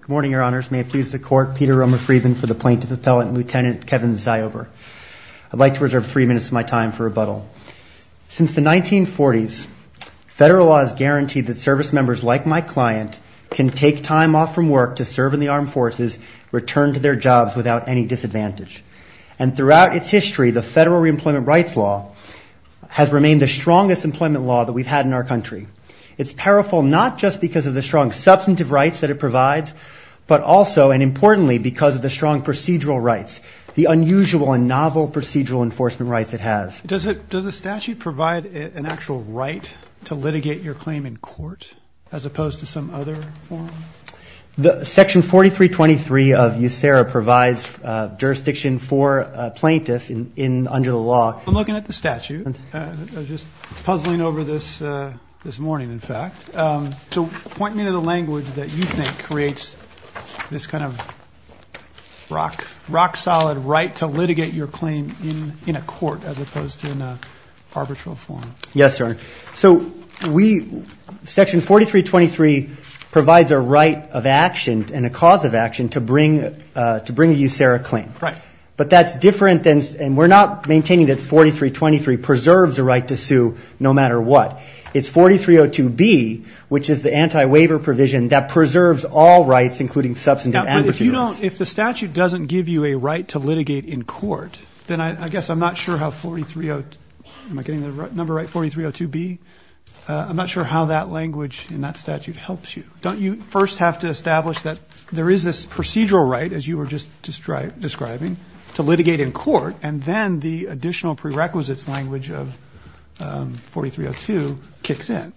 Good morning, Your Honors. May it please the Court, Peter Romer-Freedman for the plaintiff appellate and Lieutenant Kevin Ziober. I'd like to reserve three minutes of my time for rebuttal. Since the 1940s, federal law has guaranteed that service members like my client can take time off from work to serve in the armed forces, return to their jobs without any disadvantage. And throughout its history, the federal reemployment rights law has remained the strongest employment law that we've had in our country. It's powerful not just because of the strong substantive rights that it provides, but also, and importantly, because of the strong procedural rights, the unusual and novel procedural enforcement rights it has. Does the statute provide an actual right to litigate your claim in court as opposed to some other form? Section 4323 of USERRA provides jurisdiction for a plaintiff under the law. I'm looking at the statute, just puzzling over this morning, in fact. So point me to the language that you think creates this kind of rock-solid right to litigate your claim in a court as opposed to in an arbitral form. Yes, Your Honor. So we, Section 4323 provides a right of action and a cause of action to bring a USERRA claim. Right. But that's different than, and we're not maintaining that 4323 preserves a right to sue no matter what. It's 4302B, which is the anti-waiver provision, that preserves all rights, including substantive. But if you don't, if the statute doesn't give you a right to litigate in court, then I guess I'm not sure how 4302, am I getting the number right, 4302B? I'm not sure how that language in that statute helps you. Don't you first have to establish that there is this procedural right, as you were just describing, to litigate in court, and then the additional prerequisites language of 4302 kicks in?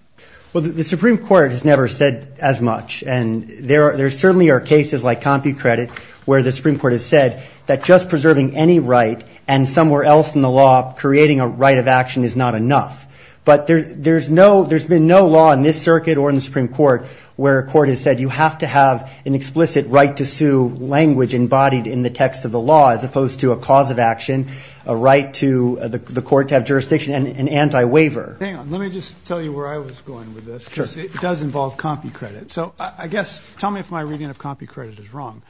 Well, the Supreme Court has never said as much. And there certainly are cases like CompuCredit where the Supreme Court has said that just preserving any right and somewhere else in the law creating a right of action is not enough. But there's no, there's been no law in this circuit or in the Supreme Court where a court has said you have to have an explicit right to sue language embodied in the text of the law as opposed to a cause of action, a right to the court to have jurisdiction, and anti-waiver. Hang on. Let me just tell you where I was going with this. Sure. Because it does involve CompuCredit. So I guess, tell me if my reading of CompuCredit is wrong.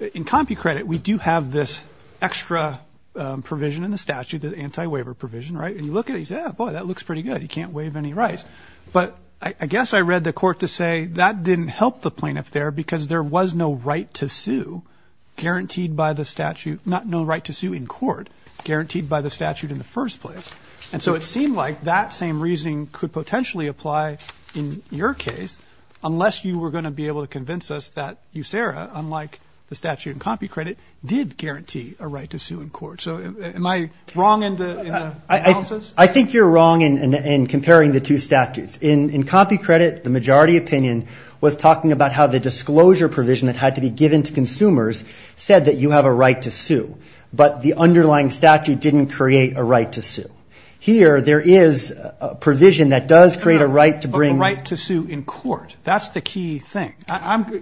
In CompuCredit, we do have this extra provision in the statute, the anti-waiver provision, right? And you look at it and you say, oh, boy, that looks pretty good. You can't waive any rights. But I guess I read the court to say that didn't help the plaintiff there because there was no right to sue guaranteed by the statute, not no right to sue in court, guaranteed by the statute in the first place. And so it seemed like that same reasoning could potentially apply in your case unless you were going to be able to convince us that USERA, unlike the statute in CompuCredit, did guarantee a right to sue in court. So am I wrong in the analysis? I think you're wrong in comparing the two statutes. In CompuCredit, the majority opinion was talking about how the disclosure provision that had to be given to consumers said that you have a right to sue, but the underlying statute didn't create a right to sue. Here, there is a provision that does create a right to bring the right to sue in court. That's the key thing.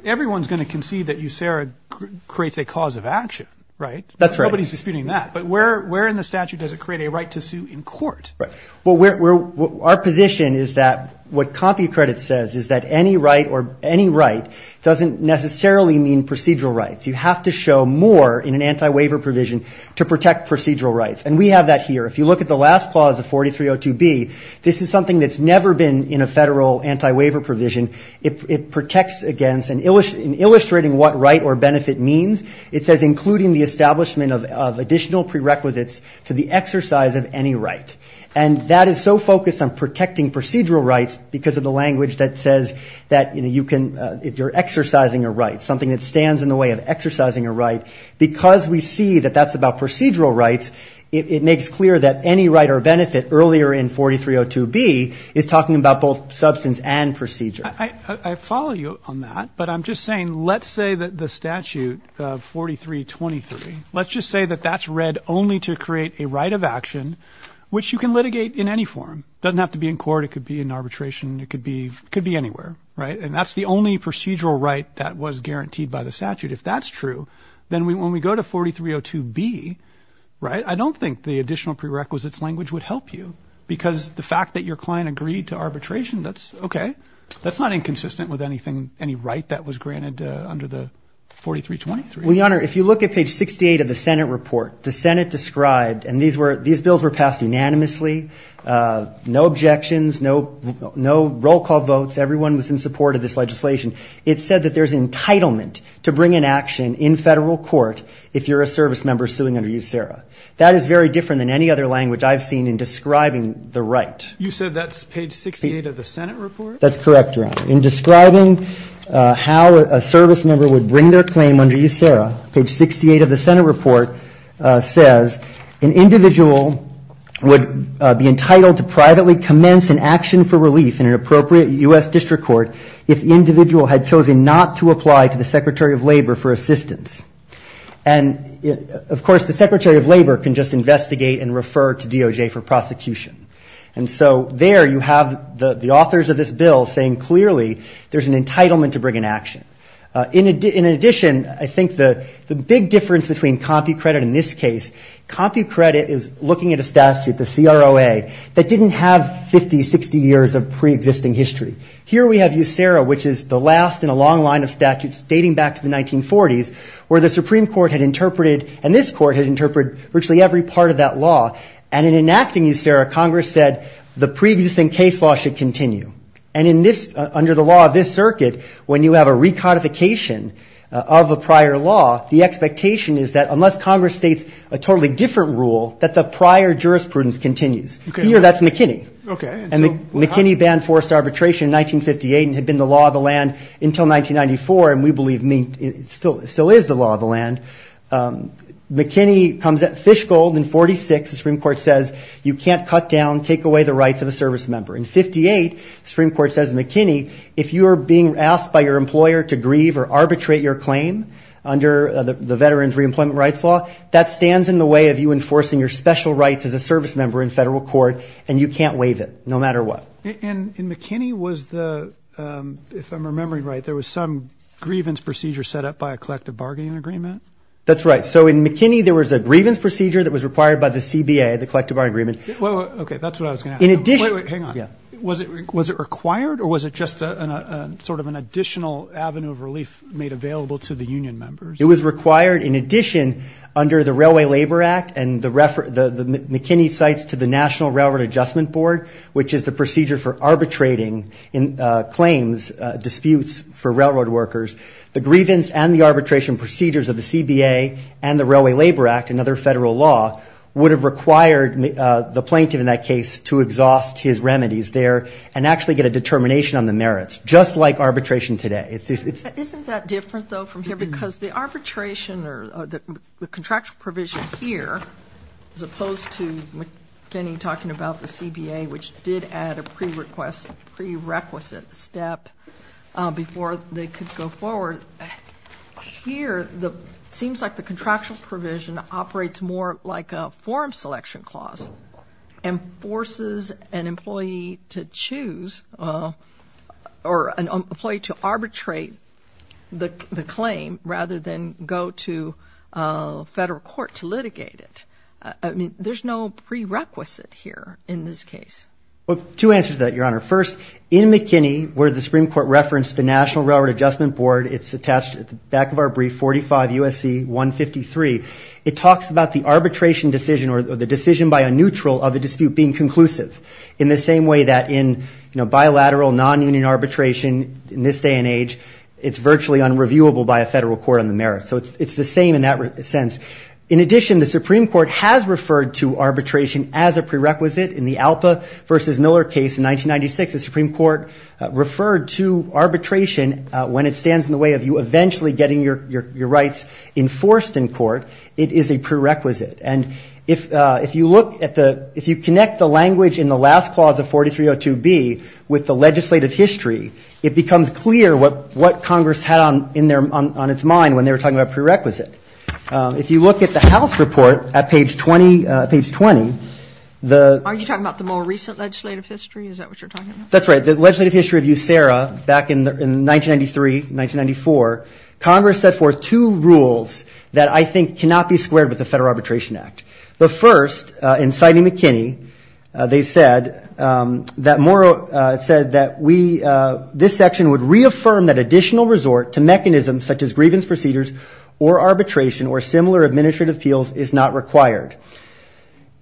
Everyone's going to concede that USERA creates a cause of action, right? That's right. Nobody's disputing that. But where in the statute does it create a right to sue in court? Well, our position is that what CompuCredit says is that any right doesn't necessarily mean procedural rights. You have to show more in an anti-waiver provision to protect procedural rights, and we have that here. If you look at the last clause of 4302B, this is something that's never been in a federal anti-waiver provision. It protects against, in illustrating what right or benefit means, it says, including the establishment of additional prerequisites to the exercise of any right. And that is so focused on protecting procedural rights because of the language that says that, you know, you're exercising a right, something that stands in the way of exercising a right. Because we see that that's about procedural rights, it makes clear that any right or benefit earlier in 4302B is talking about both substance and procedure. I follow you on that, but I'm just saying let's say that the statute of 4323, let's just say that that's read only to create a right of action which you can litigate in any form. It doesn't have to be in court. It could be in arbitration. It could be anywhere, right? And that's the only procedural right that was guaranteed by the statute. If that's true, then when we go to 4302B, right, I don't think the additional prerequisites language would help you because the fact that your client agreed to arbitration, that's okay. That's not inconsistent with anything, any right that was granted under the 4323. Well, Your Honor, if you look at page 68 of the Senate report, the Senate described, and these bills were passed unanimously, no objections, no roll call votes. Everyone was in support of this legislation. It said that there's entitlement to bring an action in federal court if you're a service member suing under USERRA. That is very different than any other language I've seen in describing the right. You said that's page 68 of the Senate report? That's correct, Your Honor. In describing how a service member would bring their claim under USERRA, page 68 of the Senate report says, an individual would be entitled to privately commence an action for relief in an appropriate U.S. district court if the individual had chosen not to apply to the Secretary of Labor for assistance. And, of course, the Secretary of Labor can just investigate and refer to DOJ for prosecution. And so there you have the authors of this bill saying clearly there's an entitlement to bring an action. In addition, I think the big difference between CompuCredit in this case, CompuCredit is looking at a statute, the CROA, that didn't have 50, 60 years of preexisting history. Here we have USERRA, which is the last in a long line of statutes dating back to the 1940s, where the Supreme Court had interpreted, and this court had interpreted, virtually every part of that law. And in enacting USERRA, Congress said the preexisting case law should continue. And in this, under the law of this circuit, when you have a recodification of a prior law, the expectation is that unless Congress states a totally different rule, that the prior jurisprudence continues. Here, that's McKinney. McKinney banned forced arbitration in 1958 and had been the law of the land until 1994. And we believe it still is the law of the land. McKinney comes at fish gold in 46. The Supreme Court says you can't cut down, take away the rights of a service member. In 58, the Supreme Court says, McKinney, if you are being asked by your employer to grieve or arbitrate your claim under the Veterans Reemployment Rights Law, that stands in the way of you enforcing your special rights as a service member in federal court, and you can't waive it, no matter what. And in McKinney was the, if I'm remembering right, there was some grievance procedure set up by a collective bargaining agreement? That's right. So in McKinney, there was a grievance procedure that was required by the CBA, the collective bargaining agreement. Okay, that's what I was going to ask. Hang on. Was it required, or was it just sort of an additional avenue of relief made available to the union members? It was required, in addition, under the Railway Labor Act, and the McKinney cites to the National Railroad Adjustment Board, which is the procedure for arbitrating claims, disputes for railroad workers. The grievance and the arbitration procedures of the CBA and the Railway Labor Act, another federal law, would have required the plaintiff in that case to exhaust his remedies there and actually get a determination on the merits, just like arbitration today. Isn't that different, though, from here? Because the arbitration or the contractual provision here, as opposed to McKinney talking about the CBA, which did add a prerequisite step before they could go forward, here it seems like the contractual provision operates more like a form selection clause and forces an employee to choose or an employee to arbitrate the claim rather than go to federal court to litigate it. I mean, there's no prerequisite here in this case. Well, two answers to that, Your Honor. First, in McKinney, where the Supreme Court referenced the National Railroad Adjustment Board, it's attached at the back of our brief, 45 U.S.C. 153. It talks about the arbitration decision or the decision by a neutral of a dispute being conclusive, in the same way that in bilateral non-union arbitration in this day and age, it's virtually unreviewable by a federal court on the merits. So it's the same in that sense. In addition, the Supreme Court has referred to arbitration as a prerequisite. In the Alpa v. Miller case in 1996, the Supreme Court referred to arbitration when it stands in the way of you eventually getting your rights enforced in court, it is a prerequisite. And if you look at the ‑‑ if you connect the language in the last clause of 4302B with the legislative history, it becomes clear what Congress had on its mind when they were talking about prerequisite. If you look at the House report at page 20, the ‑‑ Are you talking about the more recent legislative history? Is that what you're talking about? That's right. The legislative history of USERRA back in 1993, 1994, Congress set forth two rules that I think cannot be squared with the Federal Arbitration Act. The first, in Sidney McKinney, they said that we ‑‑ this section would reaffirm that additional resort to mechanisms such as grievance procedures or arbitration or similar administrative appeals is not required.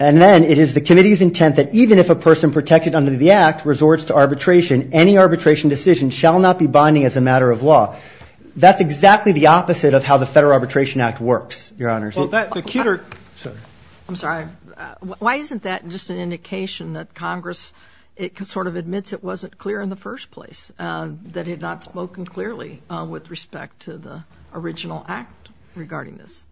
And then it is the committee's intent that even if a person protected under the act resorts to arbitration, any arbitration decision shall not be binding as a matter of law. That's exactly the opposite of how the Federal Arbitration Act works, Your Honors. Well, that ‑‑ I'm sorry. Why isn't that just an indication that Congress sort of admits it wasn't clear in the first place, that it had not spoken clearly with respect to the original act regarding this?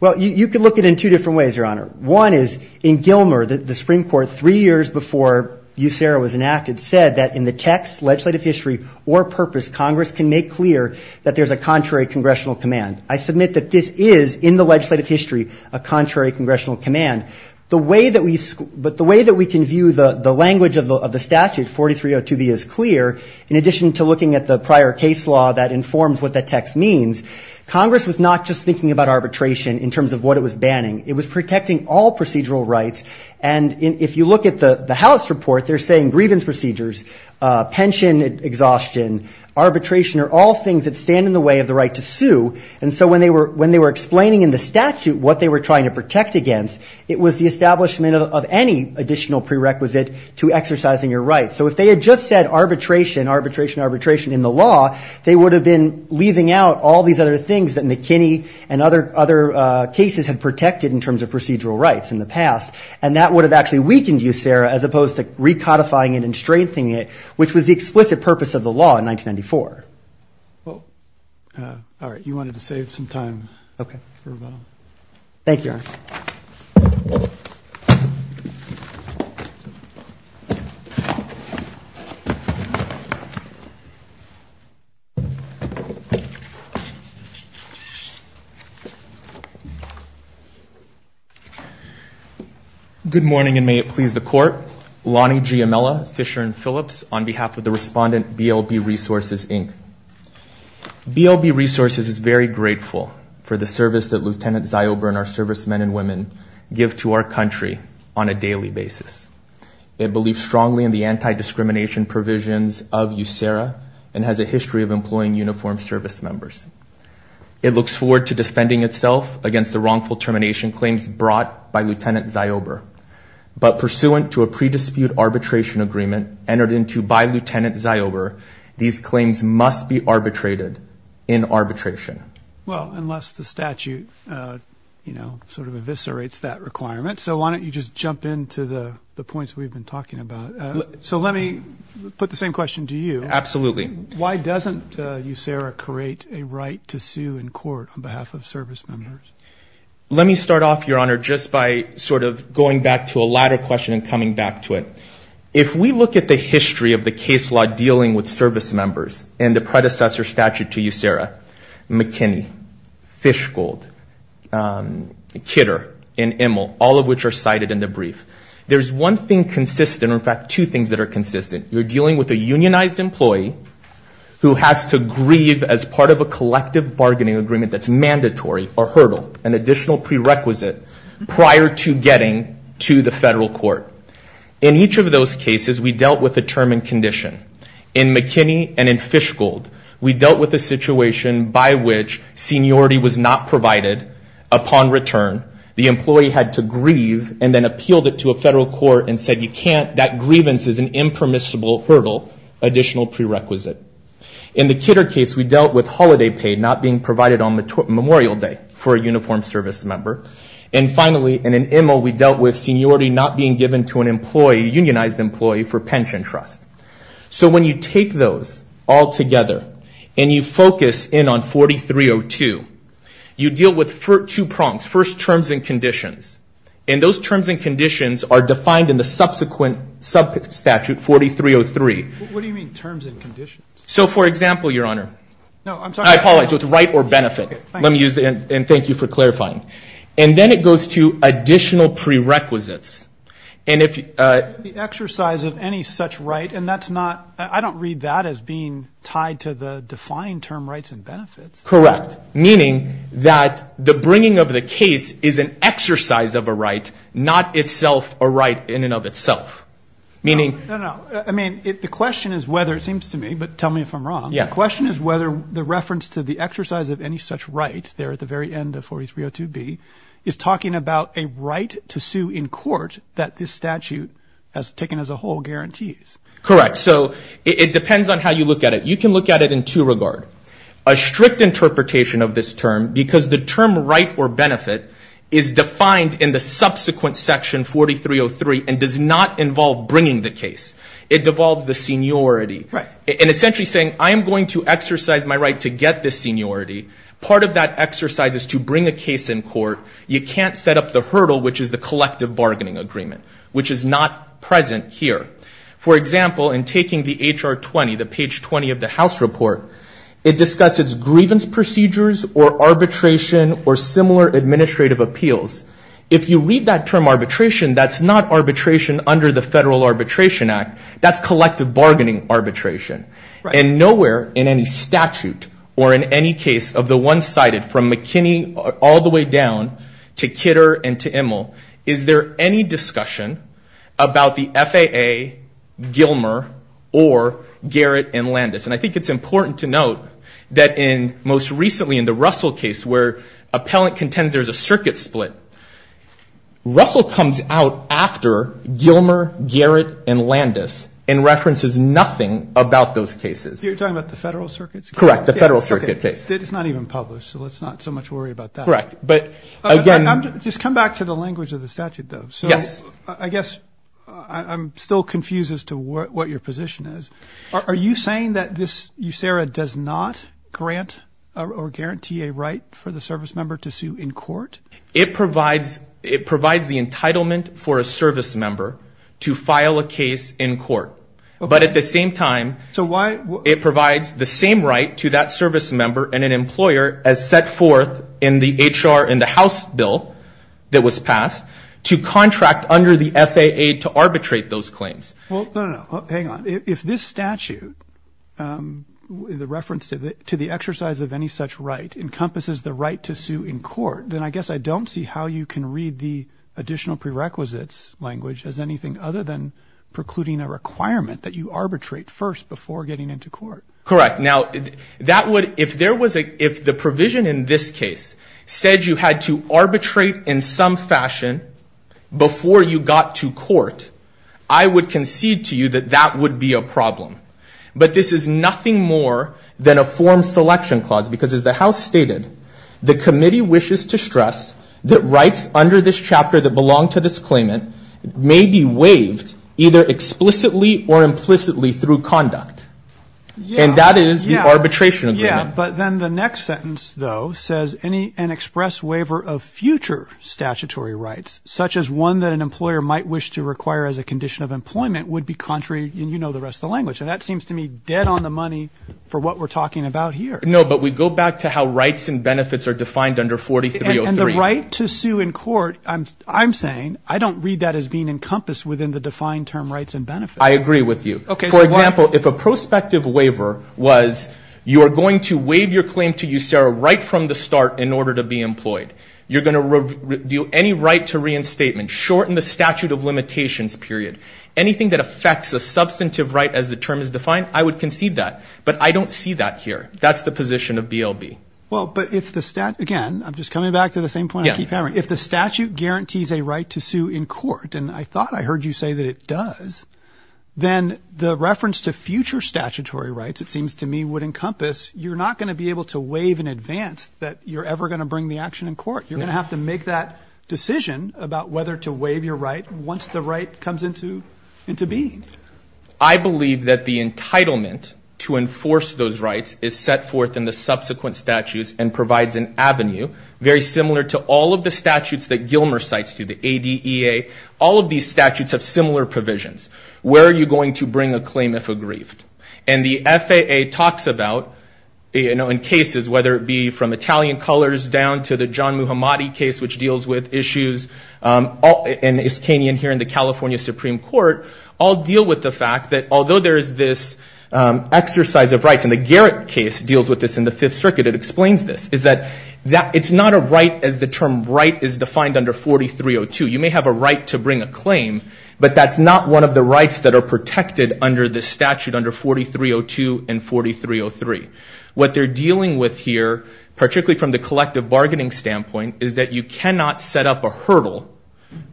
Well, you can look at it in two different ways, Your Honor. One is, in Gilmer, the Supreme Court, three years before USERRA was enacted, said that in the text, legislative history, or purpose, Congress can make clear that there's a contrary congressional command. I submit that this is, in the legislative history, a contrary congressional command. The way that we can view the language of the statute, 4302B, is clear. In addition to looking at the prior case law that informs what the text means, Congress was not just thinking about arbitration in terms of what it was banning. It was protecting all procedural rights. And if you look at the House report, they're saying grievance procedures, pension exhaustion, arbitration are all things that stand in the way of the right to sue. And so when they were explaining in the statute what they were trying to protect against, it was the establishment of any additional prerequisite to exercising your rights. So if they had just said arbitration, arbitration, arbitration in the law, they would have been leaving out all these other things that McKinney and other cases had protected in terms of procedural rights in the past. And that would have actually weakened USERRA as opposed to recodifying it and strengthening it, which was the explicit purpose of the law in 1994. All right. You wanted to save some time. Okay. Thank you. Lonnie Giamella, Fisher & Phillips, on behalf of the respondent BLB Resources, Inc. BLB Resources is very grateful for the service that Lieutenant Ziober and our servicemen and women give to our country on a daily basis. They believe strongly in the anti-discrimination provisions of USERRA and has a history of employing uniformed service members. It looks forward to defending itself against the wrongful termination claims brought by Lieutenant Ziober. But pursuant to a pre-dispute arbitration agreement entered into by Lieutenant Ziober, these claims must be arbitrated in arbitration. Well, unless the statute, you know, sort of eviscerates that requirement. So why don't you just jump into the points we've been talking about. So let me put the same question to you. Absolutely. Why doesn't USERRA create a right to sue in court on behalf of service members? Let me start off, Your Honor, just by sort of going back to a latter question and coming back to it. If we look at the history of the case law dealing with service members and the predecessor statute to USERRA, McKinney, Fishgold, Kidder, and Immel, all of which are cited in the brief, there's one thing consistent, in fact, two things that are consistent. You're dealing with a unionized employee who has to grieve as part of a collective bargaining agreement that's mandatory or hurdle, an additional prerequisite prior to getting to the federal court. In each of those cases, we dealt with a term and condition. In McKinney and in Fishgold, we dealt with a situation by which seniority was not provided upon return. The employee had to grieve and then appealed it to a federal court and said, you can't, that grievance is an impermissible hurdle, additional prerequisite. In the Kidder case, we dealt with holiday pay not being provided on Memorial Day for a uniformed service member. And finally, in Immel, we dealt with seniority not being given to an employee, unionized employee, for pension trust. So when you take those all together and you focus in on 4302, you deal with two prongs. First, terms and conditions. And those terms and conditions are defined in the subsequent statute, 4303. What do you mean terms and conditions? So, for example, Your Honor. No, I'm sorry. I apologize. With right or benefit. Let me use the end, and thank you for clarifying. And then it goes to additional prerequisites. And if you. The exercise of any such right, and that's not, I don't read that as being tied to the defined term rights and benefits. Correct. Meaning that the bringing of the case is an exercise of a right, not itself a right in and of itself. No, no. I mean, the question is whether it seems to me, but tell me if I'm wrong. The question is whether the reference to the exercise of any such right there at the very end of 4302B is talking about a right to sue in court that this statute has taken as a whole guarantees. Correct. So it depends on how you look at it. You can look at it in two regards. A strict interpretation of this term, because the term right or benefit is defined in the subsequent section 4303 and does not involve bringing the case. It devolves the seniority. Right. And essentially saying I am going to exercise my right to get this seniority. Part of that exercise is to bring a case in court. You can't set up the hurdle, which is the collective bargaining agreement, which is not present here. For example, in taking the HR 20, the page 20 of the House report, it discusses grievance procedures or arbitration or similar administrative appeals. If you read that term arbitration, that's not arbitration under the Federal Arbitration Act. That's collective bargaining arbitration. Right. And nowhere in any statute or in any case of the one-sided from McKinney all the way down to Kidder and to Immel is there any discussion about the FAA, Gilmer, or Garrett and Landis. And I think it's important to note that in most recently in the Russell case where appellant contends there's a circuit split, Russell comes out after Gilmer, Garrett, and Landis and references nothing about those cases. You're talking about the Federal Circuit's case? Correct. The Federal Circuit case. It's not even published, so let's not so much worry about that. Correct. But again. Just come back to the language of the statute, though. Yes. So I guess I'm still confused as to what your position is. Are you saying that this USERRA does not grant or guarantee a right for the service member to sue in court? It provides the entitlement for a service member to file a case in court. But at the same time, it provides the same right to that service member and an employer as set forth in the H.R. in the House bill that was passed to contract under the FAA to arbitrate those claims. Well, no, no. Hang on. If this statute, the reference to the exercise of any such right, encompasses the right to sue in court, then I guess I don't see how you can read the additional prerequisites language as anything other than precluding a requirement that you arbitrate first before getting into court. Correct. Now, if the provision in this case said you had to arbitrate in some fashion before you got to court, I would concede to you that that would be a problem. But this is nothing more than a form selection clause, because as the House stated, the committee wishes to stress that rights under this chapter that belong to this claimant may be waived either explicitly or implicitly through conduct. And that is the arbitration agreement. But then the next sentence, though, says an express waiver of future statutory rights, such as one that an employer might wish to require as a condition of employment, would be contrary, and you know the rest of the language. And that seems to me dead on the money for what we're talking about here. No, but we go back to how rights and benefits are defined under 4303. And the right to sue in court, I'm saying, I don't read that as being encompassed within the defined term rights and benefits. I agree with you. For example, if a prospective waiver was you are going to waive your claim to you, Sarah, right from the start in order to be employed. You're going to review any right to reinstatement, shorten the statute of limitations, period. Anything that affects a substantive right as the term is defined, I would concede that. But I don't see that here. That's the position of BLB. Well, but if the statute, again, I'm just coming back to the same point I keep having. If the statute guarantees a right to sue in court, and I thought I heard you say that it does, then the reference to future statutory rights, it seems to me, would encompass. You're not going to be able to waive in advance that you're ever going to bring the action in court. You're going to have to make that decision about whether to waive your right once the right comes into into being. I believe that the entitlement to enforce those rights is set forth in the subsequent statutes and provides an avenue, very similar to all of the statutes that Gilmer cites to the ADEA. All of these statutes have similar provisions. Where are you going to bring a claim if aggrieved? And the FAA talks about, you know, in cases, whether it be from Italian colors down to the John Muhammadi case, which deals with issues in Iskanian here in the California Supreme Court, all deal with the fact that although there is this exercise of rights, and the Garrett case deals with this in the Fifth Circuit, it explains this, is that it's not a right as the term right is defined under 4302. You may have a right to bring a claim, but that's not one of the rights that are protected under the statute under 4302 and 4303. What they're dealing with here, particularly from the collective bargaining standpoint, is that you cannot set up a hurdle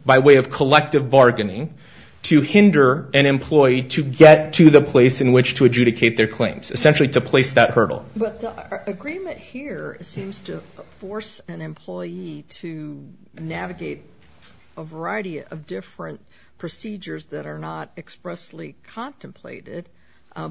by way of collective bargaining to hinder an employee to get to the place in which to adjudicate their claims, essentially to place that hurdle. But the agreement here seems to force an employee to navigate a variety of different procedures that are not expressly contemplated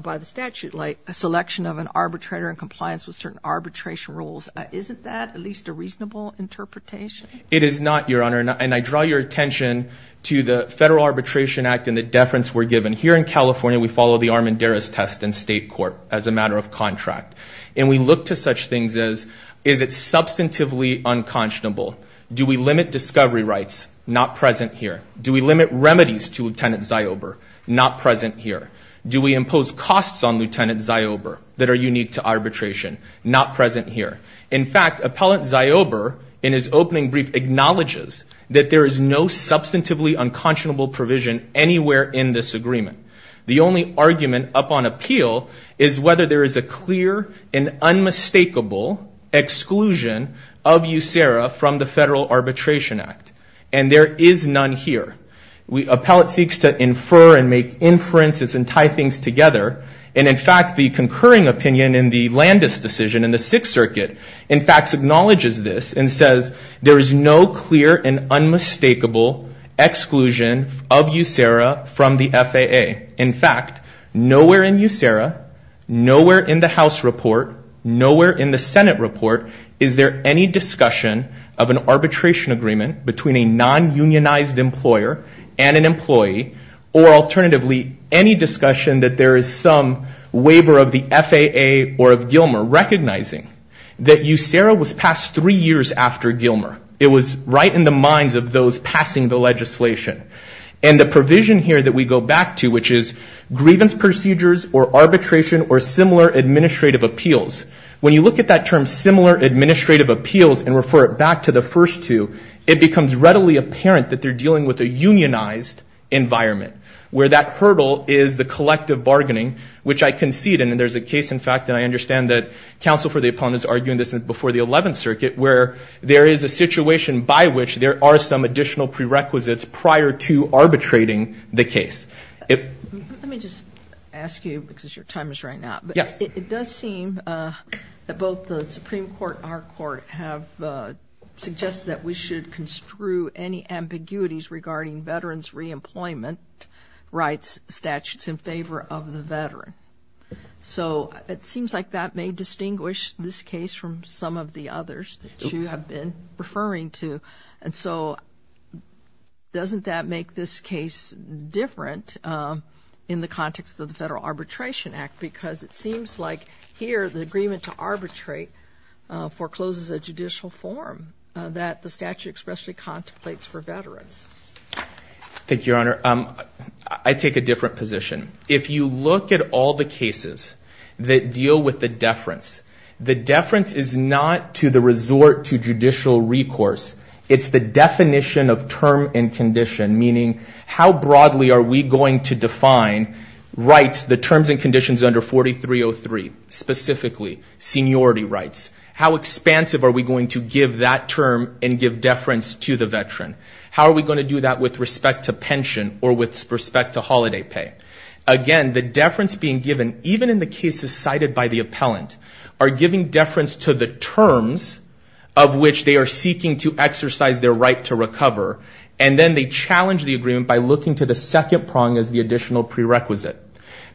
by the statute, like a selection of an arbitrator in compliance with certain arbitration rules. Isn't that at least a reasonable interpretation? It is not, Your Honor, and I draw your attention to the Federal Arbitration Act and the deference we're given. Here in California, we follow the Armendariz test in state court as a matter of contract, and we look to such things as, is it substantively unconscionable? Do we limit discovery rights not present here? Do we limit remedies to Lieutenant Ziober not present here? Do we impose costs on Lieutenant Ziober that are unique to arbitration not present here? In fact, Appellant Ziober, in his opening brief, acknowledges that there is no substantively unconscionable provision anywhere in this agreement. The only argument up on appeal is whether there is a clear and unmistakable exclusion of USERRA from the Federal Arbitration Act, and there is none here. Appellant seeks to infer and make inferences and tie things together, and in fact the concurring opinion in the Landis decision in the Sixth Circuit, in fact, acknowledges this and says there is no clear and unmistakable exclusion of USERRA from the FAA. In fact, nowhere in USERRA, nowhere in the House report, nowhere in the Senate report, is there any discussion of an arbitration agreement between a non-unionized employer and an employee, or alternatively, any discussion that there is some waiver of the FAA or of Gilmer, recognizing that USERRA was passed three years after Gilmer. It was right in the minds of those passing the legislation. And the provision here that we go back to, which is, grievance procedures or arbitration or similar administrative appeals, when you look at that term similar administrative appeals and refer it back to the first two, it becomes readily apparent that they're dealing with a unionized environment, where that hurdle is the collective bargaining, which I concede, and there's a case, in fact, that I understand that counsel for the appellant is arguing this before the Eleventh Circuit, where there is a situation by which there are some additional prerequisites prior to arbitrating the case. Let me just ask you, because your time is running out. Yes. It does seem that both the Supreme Court and our court have suggested that we should construe any ambiguities regarding veterans' reemployment rights statutes in favor of the veteran. So it seems like that may distinguish this case from some of the others that you have been referring to. And so doesn't that make this case different in the context of the Federal Arbitration Act? Because it seems like here the agreement to arbitrate forecloses a judicial form that the statute expressly contemplates for veterans. Thank you, Your Honor. I take a different position. If you look at all the cases that deal with the deference, the deference is not to the resort to judicial recourse. It's the definition of term and condition, meaning how broadly are we going to define rights, the terms and conditions under 4303, specifically seniority rights. How expansive are we going to give that term and give deference to the veteran? How are we going to do that with respect to pension or with respect to holiday pay? Again, the deference being given, even in the cases cited by the appellant, are giving deference to the terms of which they are seeking to exercise their right to recover, and then they challenge the agreement by looking to the second prong as the additional prerequisite.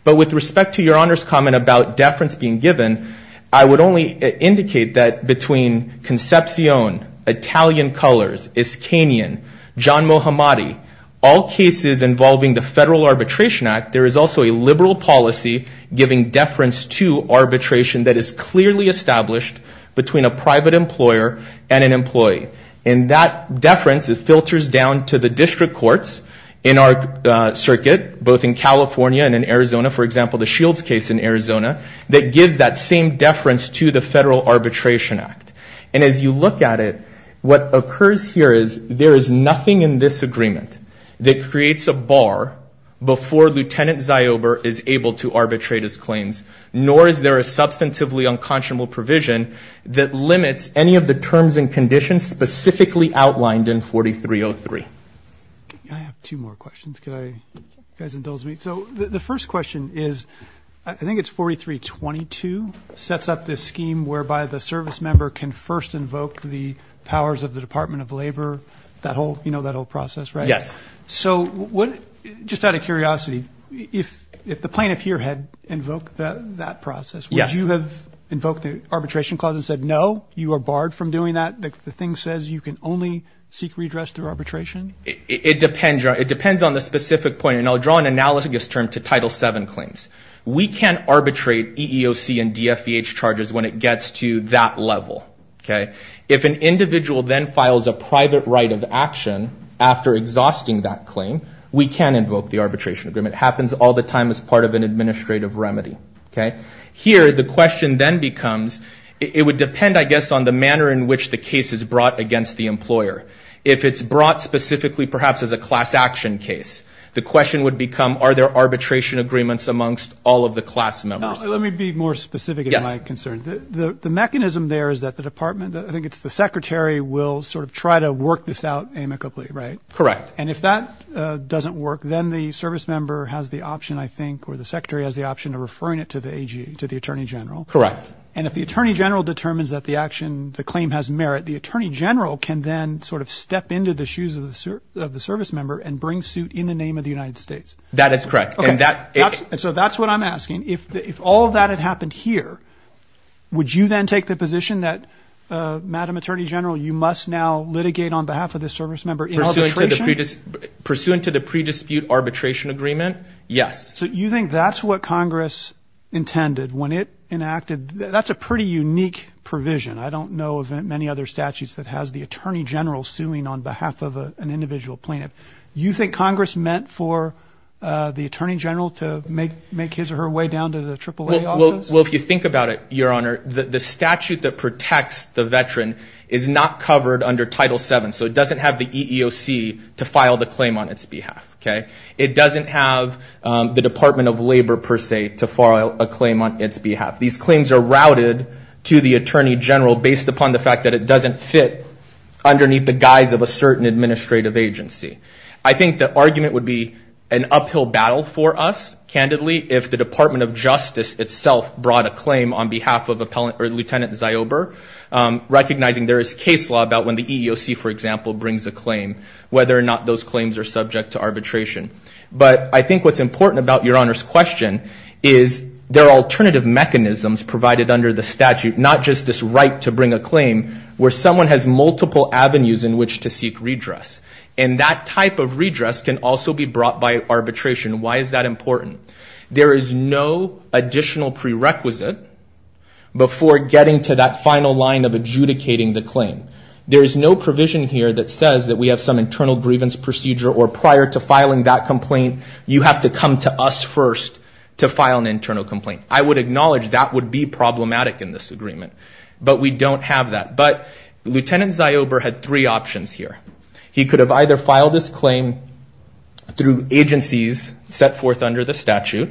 But with respect to Your Honor's comment about deference being given, I would only indicate that between Concepcion, Italian Colors, Iskanian, John Mohammadi, all cases involving the Federal Arbitration Act, there is also a liberal policy giving deference to arbitration that is clearly established between a private employer and an employee. And that deference, it filters down to the district courts in our circuit, both in California and in Arizona, for example, the Shields case in Arizona, that gives that same deference to the Federal Arbitration Act. And as you look at it, what occurs here is there is nothing in this agreement that creates a bar before Lieutenant Ziober is able to arbitrate his claims, nor is there a substantively unconscionable provision that limits any of the terms and conditions specifically outlined in 4303. I have two more questions. You guys indulge me? So the first question is, I think it's 4322 sets up this scheme whereby the service member can first invoke the powers of the Department of Labor, that whole process, right? Yes. So just out of curiosity, if the plaintiff here had invoked that process, would you have invoked the arbitration clause and said, no, you are barred from doing that, the thing says you can only seek redress through arbitration? It depends on the specific point. And I'll draw an analogous term to Title VII claims. We can't arbitrate EEOC and DFVH charges when it gets to that level, okay? If an individual then files a private right of action after exhausting that claim, we can invoke the arbitration agreement. It happens all the time as part of an administrative remedy, okay? Here, the question then becomes, it would depend, I guess, on the manner in which the case is brought against the employer. If it's brought specifically perhaps as a class action case, the question would become, are there arbitration agreements amongst all of the class members? Let me be more specific in my concern. The mechanism there is that the department, I think it's the secretary, will sort of try to work this out amicably, right? Correct. And if that doesn't work, then the service member has the option, I think, or the secretary has the option of referring it to the attorney general. Correct. And if the attorney general determines that the action, the claim has merit, the attorney general can then sort of step into the shoes of the service member and bring suit in the name of the United States. That is correct. And so that's what I'm asking. If all of that had happened here, would you then take the position that, Madam Attorney General, you must now litigate on behalf of the service member in arbitration? Pursuant to the pre-dispute arbitration agreement, yes. So you think that's what Congress intended when it enacted? That's a pretty unique provision. I don't know of many other statutes that has the attorney general suing on behalf of an individual plaintiff. You think Congress meant for the attorney general to make his or her way down to the AAA offices? Well, if you think about it, Your Honor, the statute that protects the veteran is not covered under Title VII, so it doesn't have the EEOC to file the claim on its behalf. It doesn't have the Department of Labor, per se, to file a claim on its behalf. These claims are routed to the attorney general based upon the fact that it doesn't fit underneath the guise of a certain administrative agency. I think the argument would be an uphill battle for us, candidly, if the Department of Justice itself brought a claim on behalf of Lieutenant Ziober, recognizing there is case law about when the EEOC, for example, brings a claim, whether or not those claims are subject to arbitration. But I think what's important about Your Honor's question is there are alternative mechanisms provided under the statute, not just this right to bring a claim where someone has multiple avenues in which to seek redress. And that type of redress can also be brought by arbitration. Why is that important? There is no additional prerequisite before getting to that final line of adjudicating the claim. There is no provision here that says that we have some internal grievance procedure or prior to filing that complaint you have to come to us first to file an internal complaint. I would acknowledge that would be problematic in this agreement, but we don't have that. But Lieutenant Ziober had three options here. He could have either filed this claim through agencies set forth under the statute.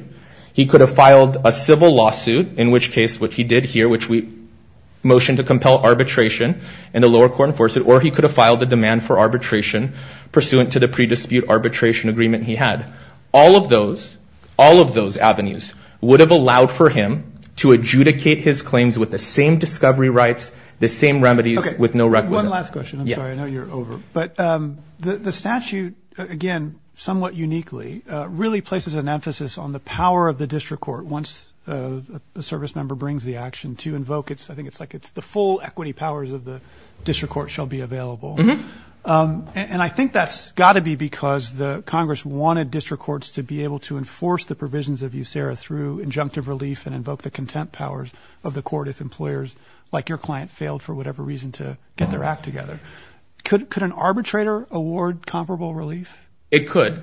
He could have filed a civil lawsuit, in which case what he did here, in which we motioned to compel arbitration and the lower court enforced it, or he could have filed a demand for arbitration pursuant to the pre-dispute arbitration agreement he had. All of those, all of those avenues would have allowed for him to adjudicate his claims with the same discovery rights, the same remedies with no requisite. Okay, one last question. I'm sorry. I know you're over. But the statute, again, somewhat uniquely, really places an emphasis on the power of the district court once a service member brings the action to invoke. I think it's like it's the full equity powers of the district court shall be available. And I think that's got to be because the Congress wanted district courts to be able to enforce the provisions of USERRA through injunctive relief and invoke the contempt powers of the court if employers like your client failed for whatever reason to get their act together. Could an arbitrator award comparable relief? It could.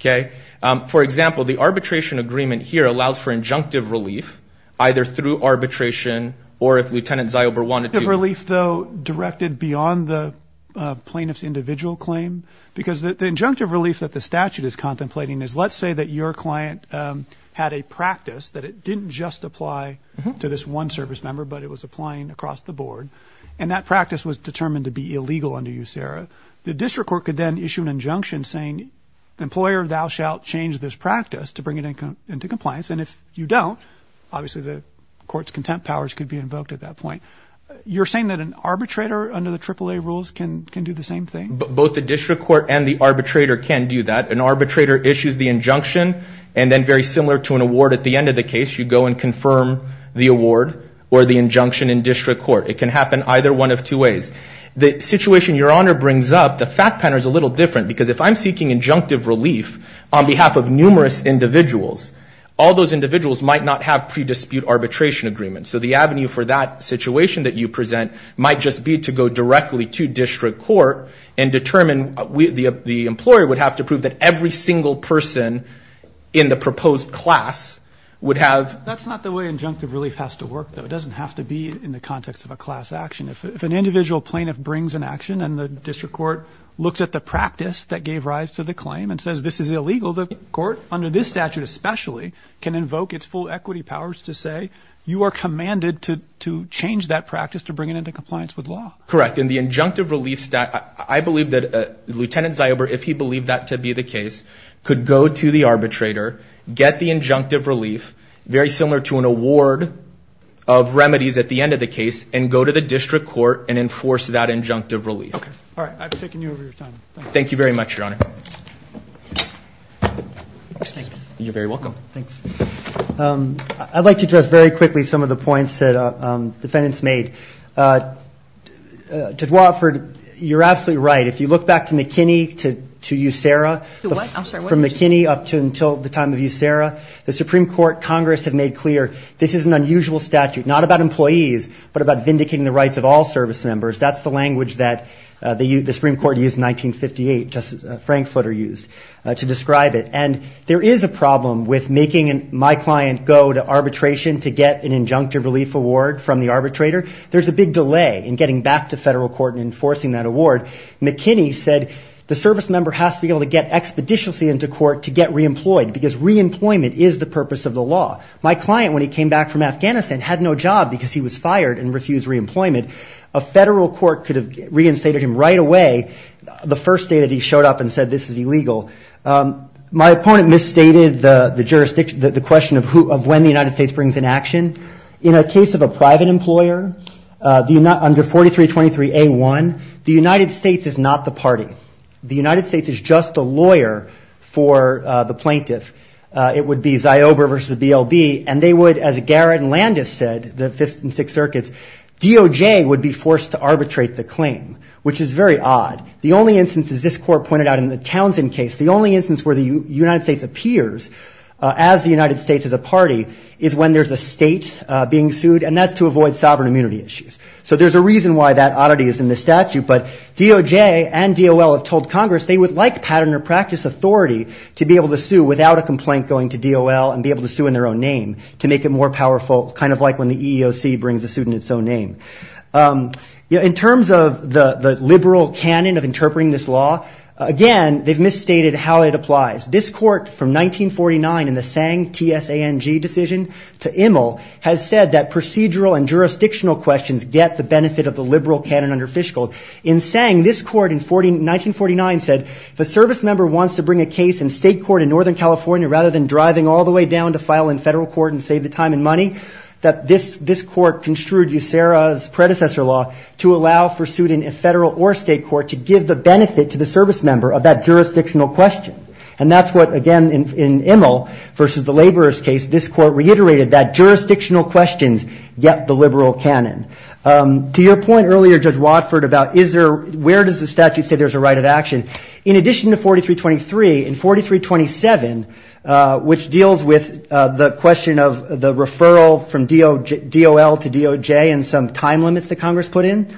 Okay. The statute allows for injunctive relief either through arbitration or if Lieutenant Ziober wanted to. Relief, though, directed beyond the plaintiff's individual claim? Because the injunctive relief that the statute is contemplating is let's say that your client had a practice, that it didn't just apply to this one service member, but it was applying across the board, and that practice was determined to be illegal under USERRA. The district court could then issue an injunction saying, employer, thou shalt change this practice to bring it into compliance. And if you don't, obviously the court's contempt powers could be invoked at that point. You're saying that an arbitrator under the AAA rules can do the same thing? Both the district court and the arbitrator can do that. An arbitrator issues the injunction, and then very similar to an award at the end of the case, you go and confirm the award or the injunction in district court. It can happen either one of two ways. The situation Your Honor brings up, the fact pattern is a little different because if I'm seeking injunctive relief on behalf of numerous individuals, all those individuals might not have pre-dispute arbitration agreements. So the avenue for that situation that you present might just be to go directly to district court and determine the employer would have to prove that every single person in the proposed class would have. That's not the way injunctive relief has to work, though. It doesn't have to be in the context of a class action. If an individual plaintiff brings an action and the district court looks at the practice that gave rise to the claim and says this is illegal, the court, under this statute especially, can invoke its full equity powers to say you are commanded to change that practice to bring it into compliance with law. Correct. In the injunctive relief statute, I believe that Lieutenant Ziober, if he believed that to be the case, could go to the arbitrator, get the injunctive relief, very similar to an award of remedies at the end of the case, and go to the district court and enforce that injunctive relief. Okay. All right. I've taken you over your time. Thank you. Thank you very much, Your Honor. Thanks. You're very welcome. Thanks. I'd like to address very quickly some of the points that defendants made. To Dwayne, you're absolutely right. If you look back to McKinney, to USERA, from McKinney up until the time of USERA, the Supreme Court, Congress have made clear this is an unusual statute, not about employees, but about vindicating the rights of all service members. That's the language that the Supreme Court used in 1958, Justice Frankfurter used to describe it. And there is a problem with making my client go to arbitration to get an injunctive relief award from the arbitrator. There's a big delay in getting back to federal court and enforcing that award. McKinney said the service member has to be able to get expeditiously into court to get reemployed because reemployment is the purpose of the law. My client, when he came back from Afghanistan, had no job because he was fired and refused reemployment. A federal court could have reinstated him right away the first day that he showed up and said this is illegal. My opponent misstated the question of when the United States brings in action. In a case of a private employer, under 4323A1, the United States is not the party. The United States is just a lawyer for the plaintiff. It would be Ziober versus BLB, and they would, as Garrett and Landis said, the Fifth and Sixth Circuits, DOJ would be forced to arbitrate the claim, which is very odd. The only instance, as this court pointed out in the Townsend case, the only instance where the United States appears as the United States as a party is when there's a state being sued, and that's to avoid sovereign immunity issues. So there's a reason why that oddity is in the statute. But DOJ and DOL have told Congress they would like pattern or practice authority to be able to sue without a complaint going to DOL and be able to sue in their own name to make it more powerful, kind of like when the EEOC brings a suit in its own name. In terms of the liberal canon of interpreting this law, again, they've misstated how it applies. This court, from 1949 in the Tsang, T-S-A-N-G, decision to Immel, has said that procedural and jurisdictional questions get the benefit of the liberal canon under Fishgall. In Tsang, this court in 1949 said if a service member wants to bring a case in state court in northern California rather than driving all the way down to file in federal court and save the time and money, that this court construed USERRA's predecessor law to allow for suit in federal or state court to give the benefit to the service member of that jurisdictional question. And that's what, again, in Immel versus the laborers case, this court reiterated that jurisdictional questions get the liberal canon. To your point earlier, Judge Watford, about where does the statute say there's a right of action, in addition to 4323, in 4327, which deals with the question of the referral from DOL to DOJ and some time limits that Congress put in,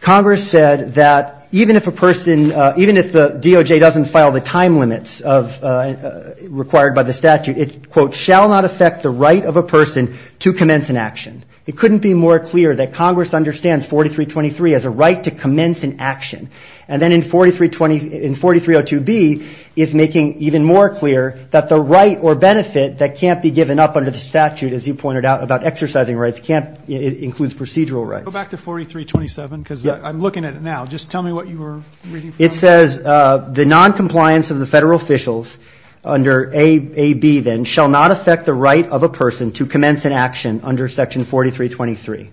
Congress said that even if a person, even if the DOJ doesn't file the time limits required by the statute, it, quote, shall not affect the right of a person to commence an action. It couldn't be more clear that Congress understands 4323 as a right to commence an action. And then in 4302B, it's making even more clear that the right or benefit that can't be given up under the statute, as you pointed out, about exercising rights, it includes procedural rights. Go back to 4327, because I'm looking at it now. Just tell me what you were reading from it. It says the noncompliance of the federal officials under AB, then, shall not affect the right of a person to commence an action under section 4323.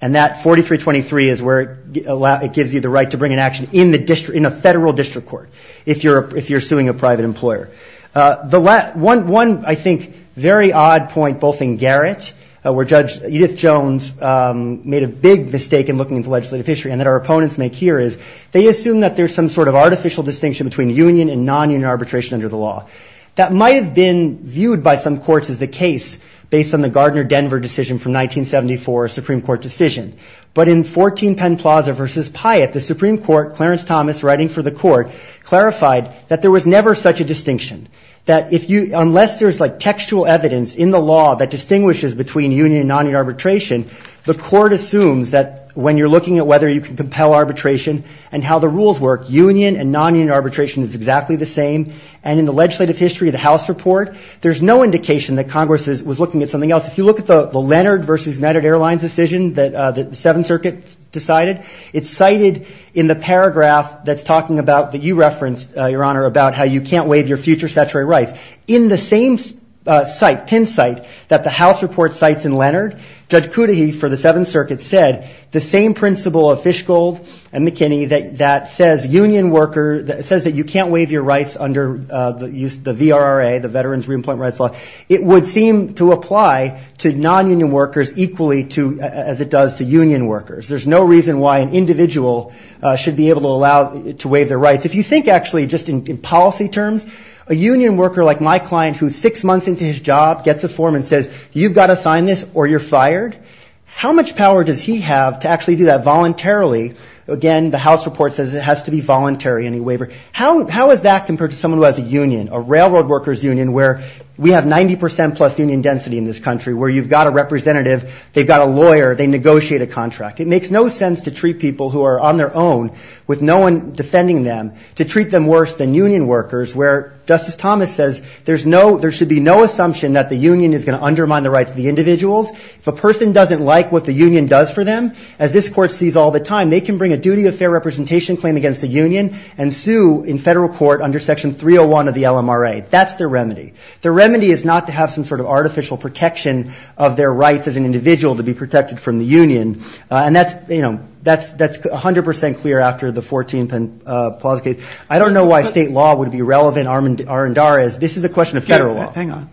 And that 4323 is where it gives you the right to bring an action in a federal district court, if you're suing a private employer. One, I think, very odd point, both in Garrett, where Judge Edith Jones made a big mistake in looking at the legislative history, and that our opponents make here, is they assume that there's some sort of artificial distinction between union and nonunion arbitration under the law. That might have been viewed by some courts as the case, based on the Gardner-Denver decision from 1974, a Supreme Court decision. But in 14 Penn Plaza v. Pyatt, the Supreme Court, Clarence Thomas writing for the court, clarified that there was never such a distinction. That unless there's textual evidence in the law that distinguishes between union and nonunion arbitration, the court assumes that when you're looking at whether you can compel arbitration, and how the rules work, union and nonunion arbitration is exactly the same. And in the legislative history of the House report, there's no indication that Congress was looking at something else. If you look at the Leonard v. United Airlines decision that the Seventh Circuit decided, it's cited in the paragraph that's talking about, that you referenced, Your Honor, about how you can't waive your future statutory rights. In the same site, Penn site, that the House report cites in Leonard, Judge Cudahy for the Seventh Circuit said the same principle of Fishgold and McKinney, that says union worker, that says that you can't waive your rights under the VRRA, the Veterans Reemployment Rights Law. It would seem to apply to nonunion workers equally to, as it does to union workers. There's no reason why an individual should be able to allow to waive their rights. If you think, actually, just in policy terms, a union worker like my client, who's six months into his job, gets a form and says, You've got to sign this or you're fired. How much power does he have to actually do that voluntarily? Again, the House report says it has to be voluntary, any waiver. How is that compared to someone who has a union, a railroad workers union, where we have 90% plus union density in this country, where you've got a representative, they've got a lawyer, they negotiate a contract. It makes no sense to treat people who are on their own, with no one defending them, to treat them worse than union workers, where Justice Thomas says there should be no assumption that the union is going to undermine the rights of the individuals. If a person doesn't like what the union does for them, as this Court sees all the time, they can bring a duty of fair representation claim against the union and sue in federal court under Section 301 of the LMRA. That's their remedy. Their remedy is not to have some sort of artificial protection of their rights as an individual to be protected from the union. And that's, you know, that's 100% clear after the 14th and Plaza case. I don't know why state law would be relevant. This is a question of federal law. Hang on.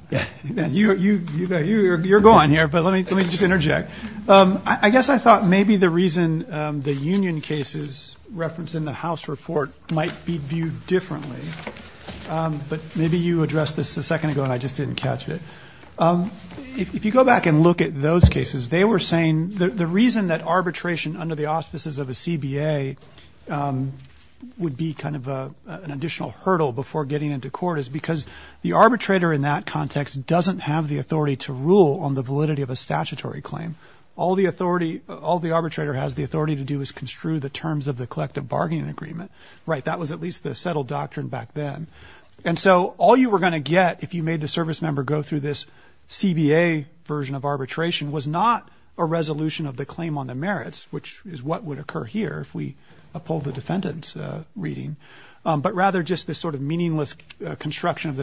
You're going here, but let me just interject. I guess I thought maybe the reason the union case is referenced in the House report might be viewed differently. But maybe you addressed this a second ago, and I just didn't catch it. If you go back and look at those cases, they were saying the reason that arbitration under the auspices of a CBA would be kind of an additional hurdle before getting into court is because the arbitrator in that context doesn't have the authority to rule on the validity of a statutory claim. All the arbitrator has the authority to do is construe the terms of the collective bargaining agreement. Right, that was at least the settled doctrine back then. And so all you were going to get if you made the service member go through this CBA version of arbitration was not a resolution of the claim on the merits, which is what would occur here if we uphold the defendant's reading, but rather just this sort of meaningless construction of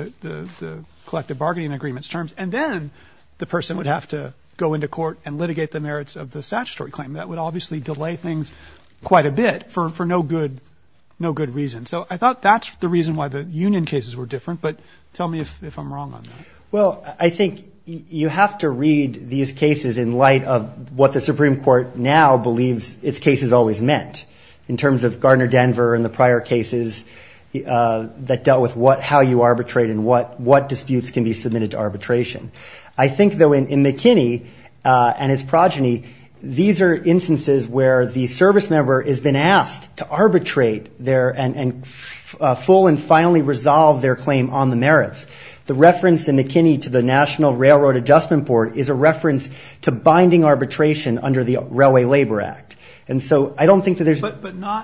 the collective bargaining agreement's terms. And then the person would have to go into court and litigate the merits of the statutory claim. That would obviously delay things quite a bit for no good reason. So I thought that's the reason why the union cases were different. But tell me if I'm wrong on that. Well, I think you have to read these cases in light of what the Supreme Court now believes its cases always meant. In terms of Gardner-Denver and the prior cases that dealt with how you arbitrate and what disputes can be submitted to arbitration. I think, though, in McKinney and his progeny, these are instances where the service member has been asked to arbitrate their full and finally resolve their claim on the merits. The reference in McKinney to the National Railroad Adjustment Board is a reference to binding arbitration under the Railway Labor Act. And so I don't think that there's not.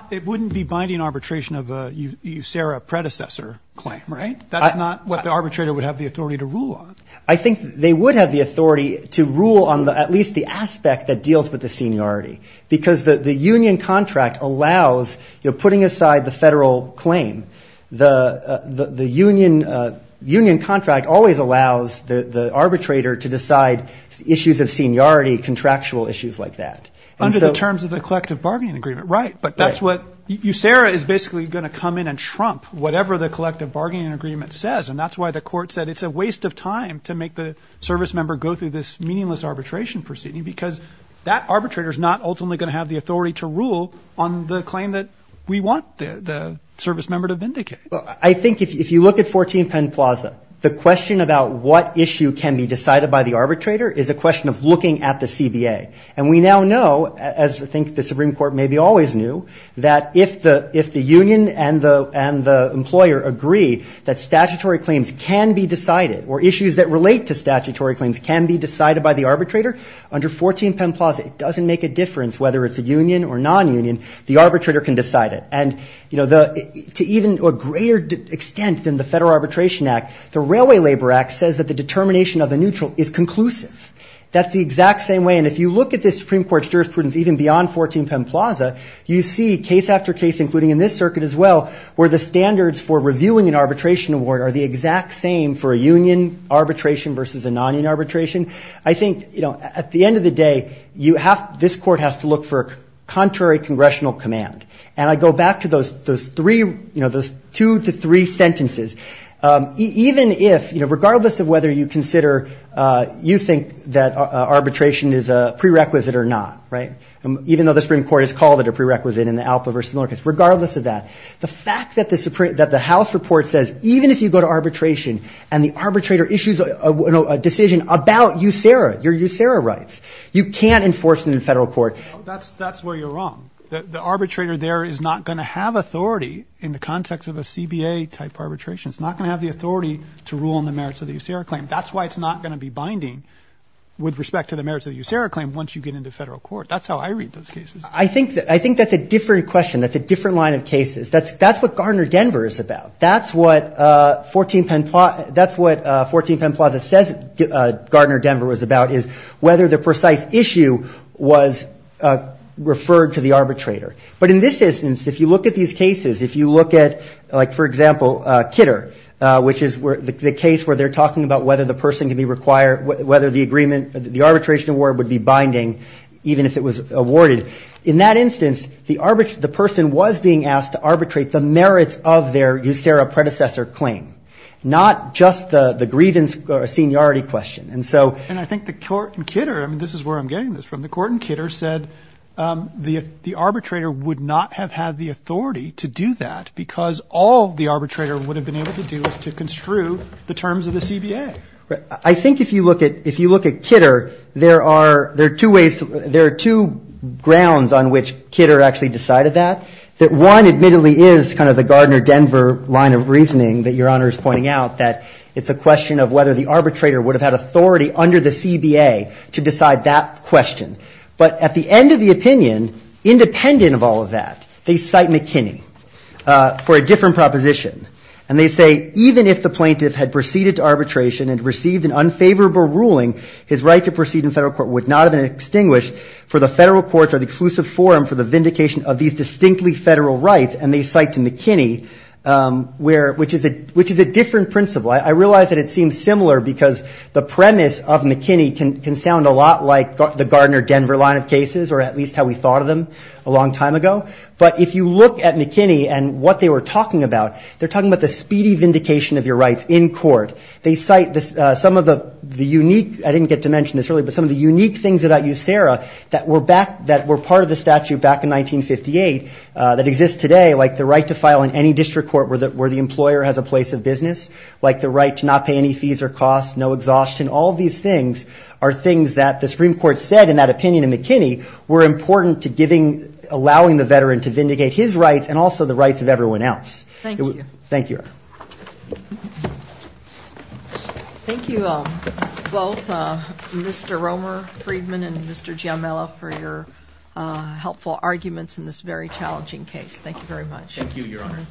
But it wouldn't be binding arbitration of a USERA predecessor claim, right? That's not what the arbitrator would have the authority to rule on. I think they would have the authority to rule on at least the aspect that deals with the seniority. Because the union contract allows putting aside the federal claim. The union contract always allows the arbitrator to decide issues of seniority, contractual issues like that. Under the terms of the collective bargaining agreement, right. But that's what USERA is basically going to come in and trump whatever the collective bargaining agreement says. And that's why the court said it's a waste of time to make the service member go through this meaningless arbitration proceeding. Because that arbitrator is not ultimately going to have the authority to rule on the claim that we want the service member to vindicate. Well, I think if you look at 14 Penn Plaza, the question about what issue can be decided by the arbitrator is a question of looking at the CBA. And we now know, as I think the Supreme Court maybe always knew, that if the union and the employer agree that statutory claims can be decided or issues that relate to statutory claims can be decided by the arbitrator, under 14 Penn Plaza it doesn't make a difference whether it's a union or non-union. The arbitrator can decide it. And, you know, to even a greater extent than the Federal Arbitration Act, the Railway Labor Act says that the determination of the neutral is conclusive. That's the exact same way. And if you look at the Supreme Court's jurisprudence even beyond 14 Penn Plaza, you see case after case, including in this circuit as well, where the standards for reviewing an arbitration award are the exact same for a union arbitration versus a non-union arbitration. I think, you know, at the end of the day, you have to, this court has to look for contrary congressional command. And I go back to those three, you know, those two to three sentences. Even if, you know, regardless of whether you consider you think that arbitration is a prerequisite or not, right, even though the Supreme Court has called it a prerequisite in the Alpa v. Miller case, regardless of that, the fact that the House report says even if you go to arbitration and the arbitrator issues a decision about USERRA, your USERRA rights, you can't enforce it in federal court. That's where you're wrong. The arbitrator there is not going to have authority in the context of a CBA-type arbitration. It's not going to have the authority to rule on the merits of the USERRA claim. That's why it's not going to be binding with respect to the merits of the USERRA claim once you get into federal court. That's how I read those cases. I think that's a different question. That's a different line of cases. That's what Gardner-Denver is about. That's what 14 Penn Plaza says Gardner-Denver was about, is whether the precise issue was referred to the arbitrator. But in this instance, if you look at these cases, if you look at, like, for example, Kitter, which is the case where they're talking about whether the person can be required, whether the arbitration award would be binding even if it was awarded, in that instance, the person was being asked to arbitrate the merits of their USERRA predecessor claim, not just the grievance or seniority question. And so ‑‑ And I think the court in Kitter, and this is where I'm getting this from, the court in Kitter said the arbitrator would not have had the authority to do that because all the arbitrator would have been able to do was to construe the terms of the CBA. Right. I think if you look at Kitter, there are two ways, there are two grounds on which Kitter actually decided that. That one, admittedly, is kind of the Gardner-Denver line of reasoning that Your Honor is pointing out, that it's a question of whether the arbitrator would have had authority under the CBA to decide that question. But at the end of the opinion, independent of all of that, they cite McKinney for a different proposition. And they say, even if the plaintiff had proceeded to arbitration and received an unfavorable ruling, his right to proceed in federal court would not have been extinguished for the federal courts or the exclusive forum for the vindication of these distinctly federal rights. And they cite to McKinney, which is a different principle. I realize that it seems similar because the premise of McKinney can sound a lot like the Gardner-Denver line of cases, or at least how we thought of them a long time ago. But if you look at McKinney and what they were talking about, they're talking about the speedy vindication of your rights in court. They cite some of the unique, I didn't get to mention this earlier, but some of the unique things about USERRA that were part of the statute back in 1958 that exist today, like the right to file in any district court where the employer has a place of business, like the right to not pay any fees or costs, no exhaustion. All of these things are things that the Supreme Court said in that opinion in McKinney were important to allowing the veteran to vindicate his rights and also the rights of everyone else. Thank you. Thank you. Thank you both, Mr. Romer-Friedman and Mr. Giamella, for your helpful arguments in this very challenging case. Thank you very much. Thank you, Your Honor.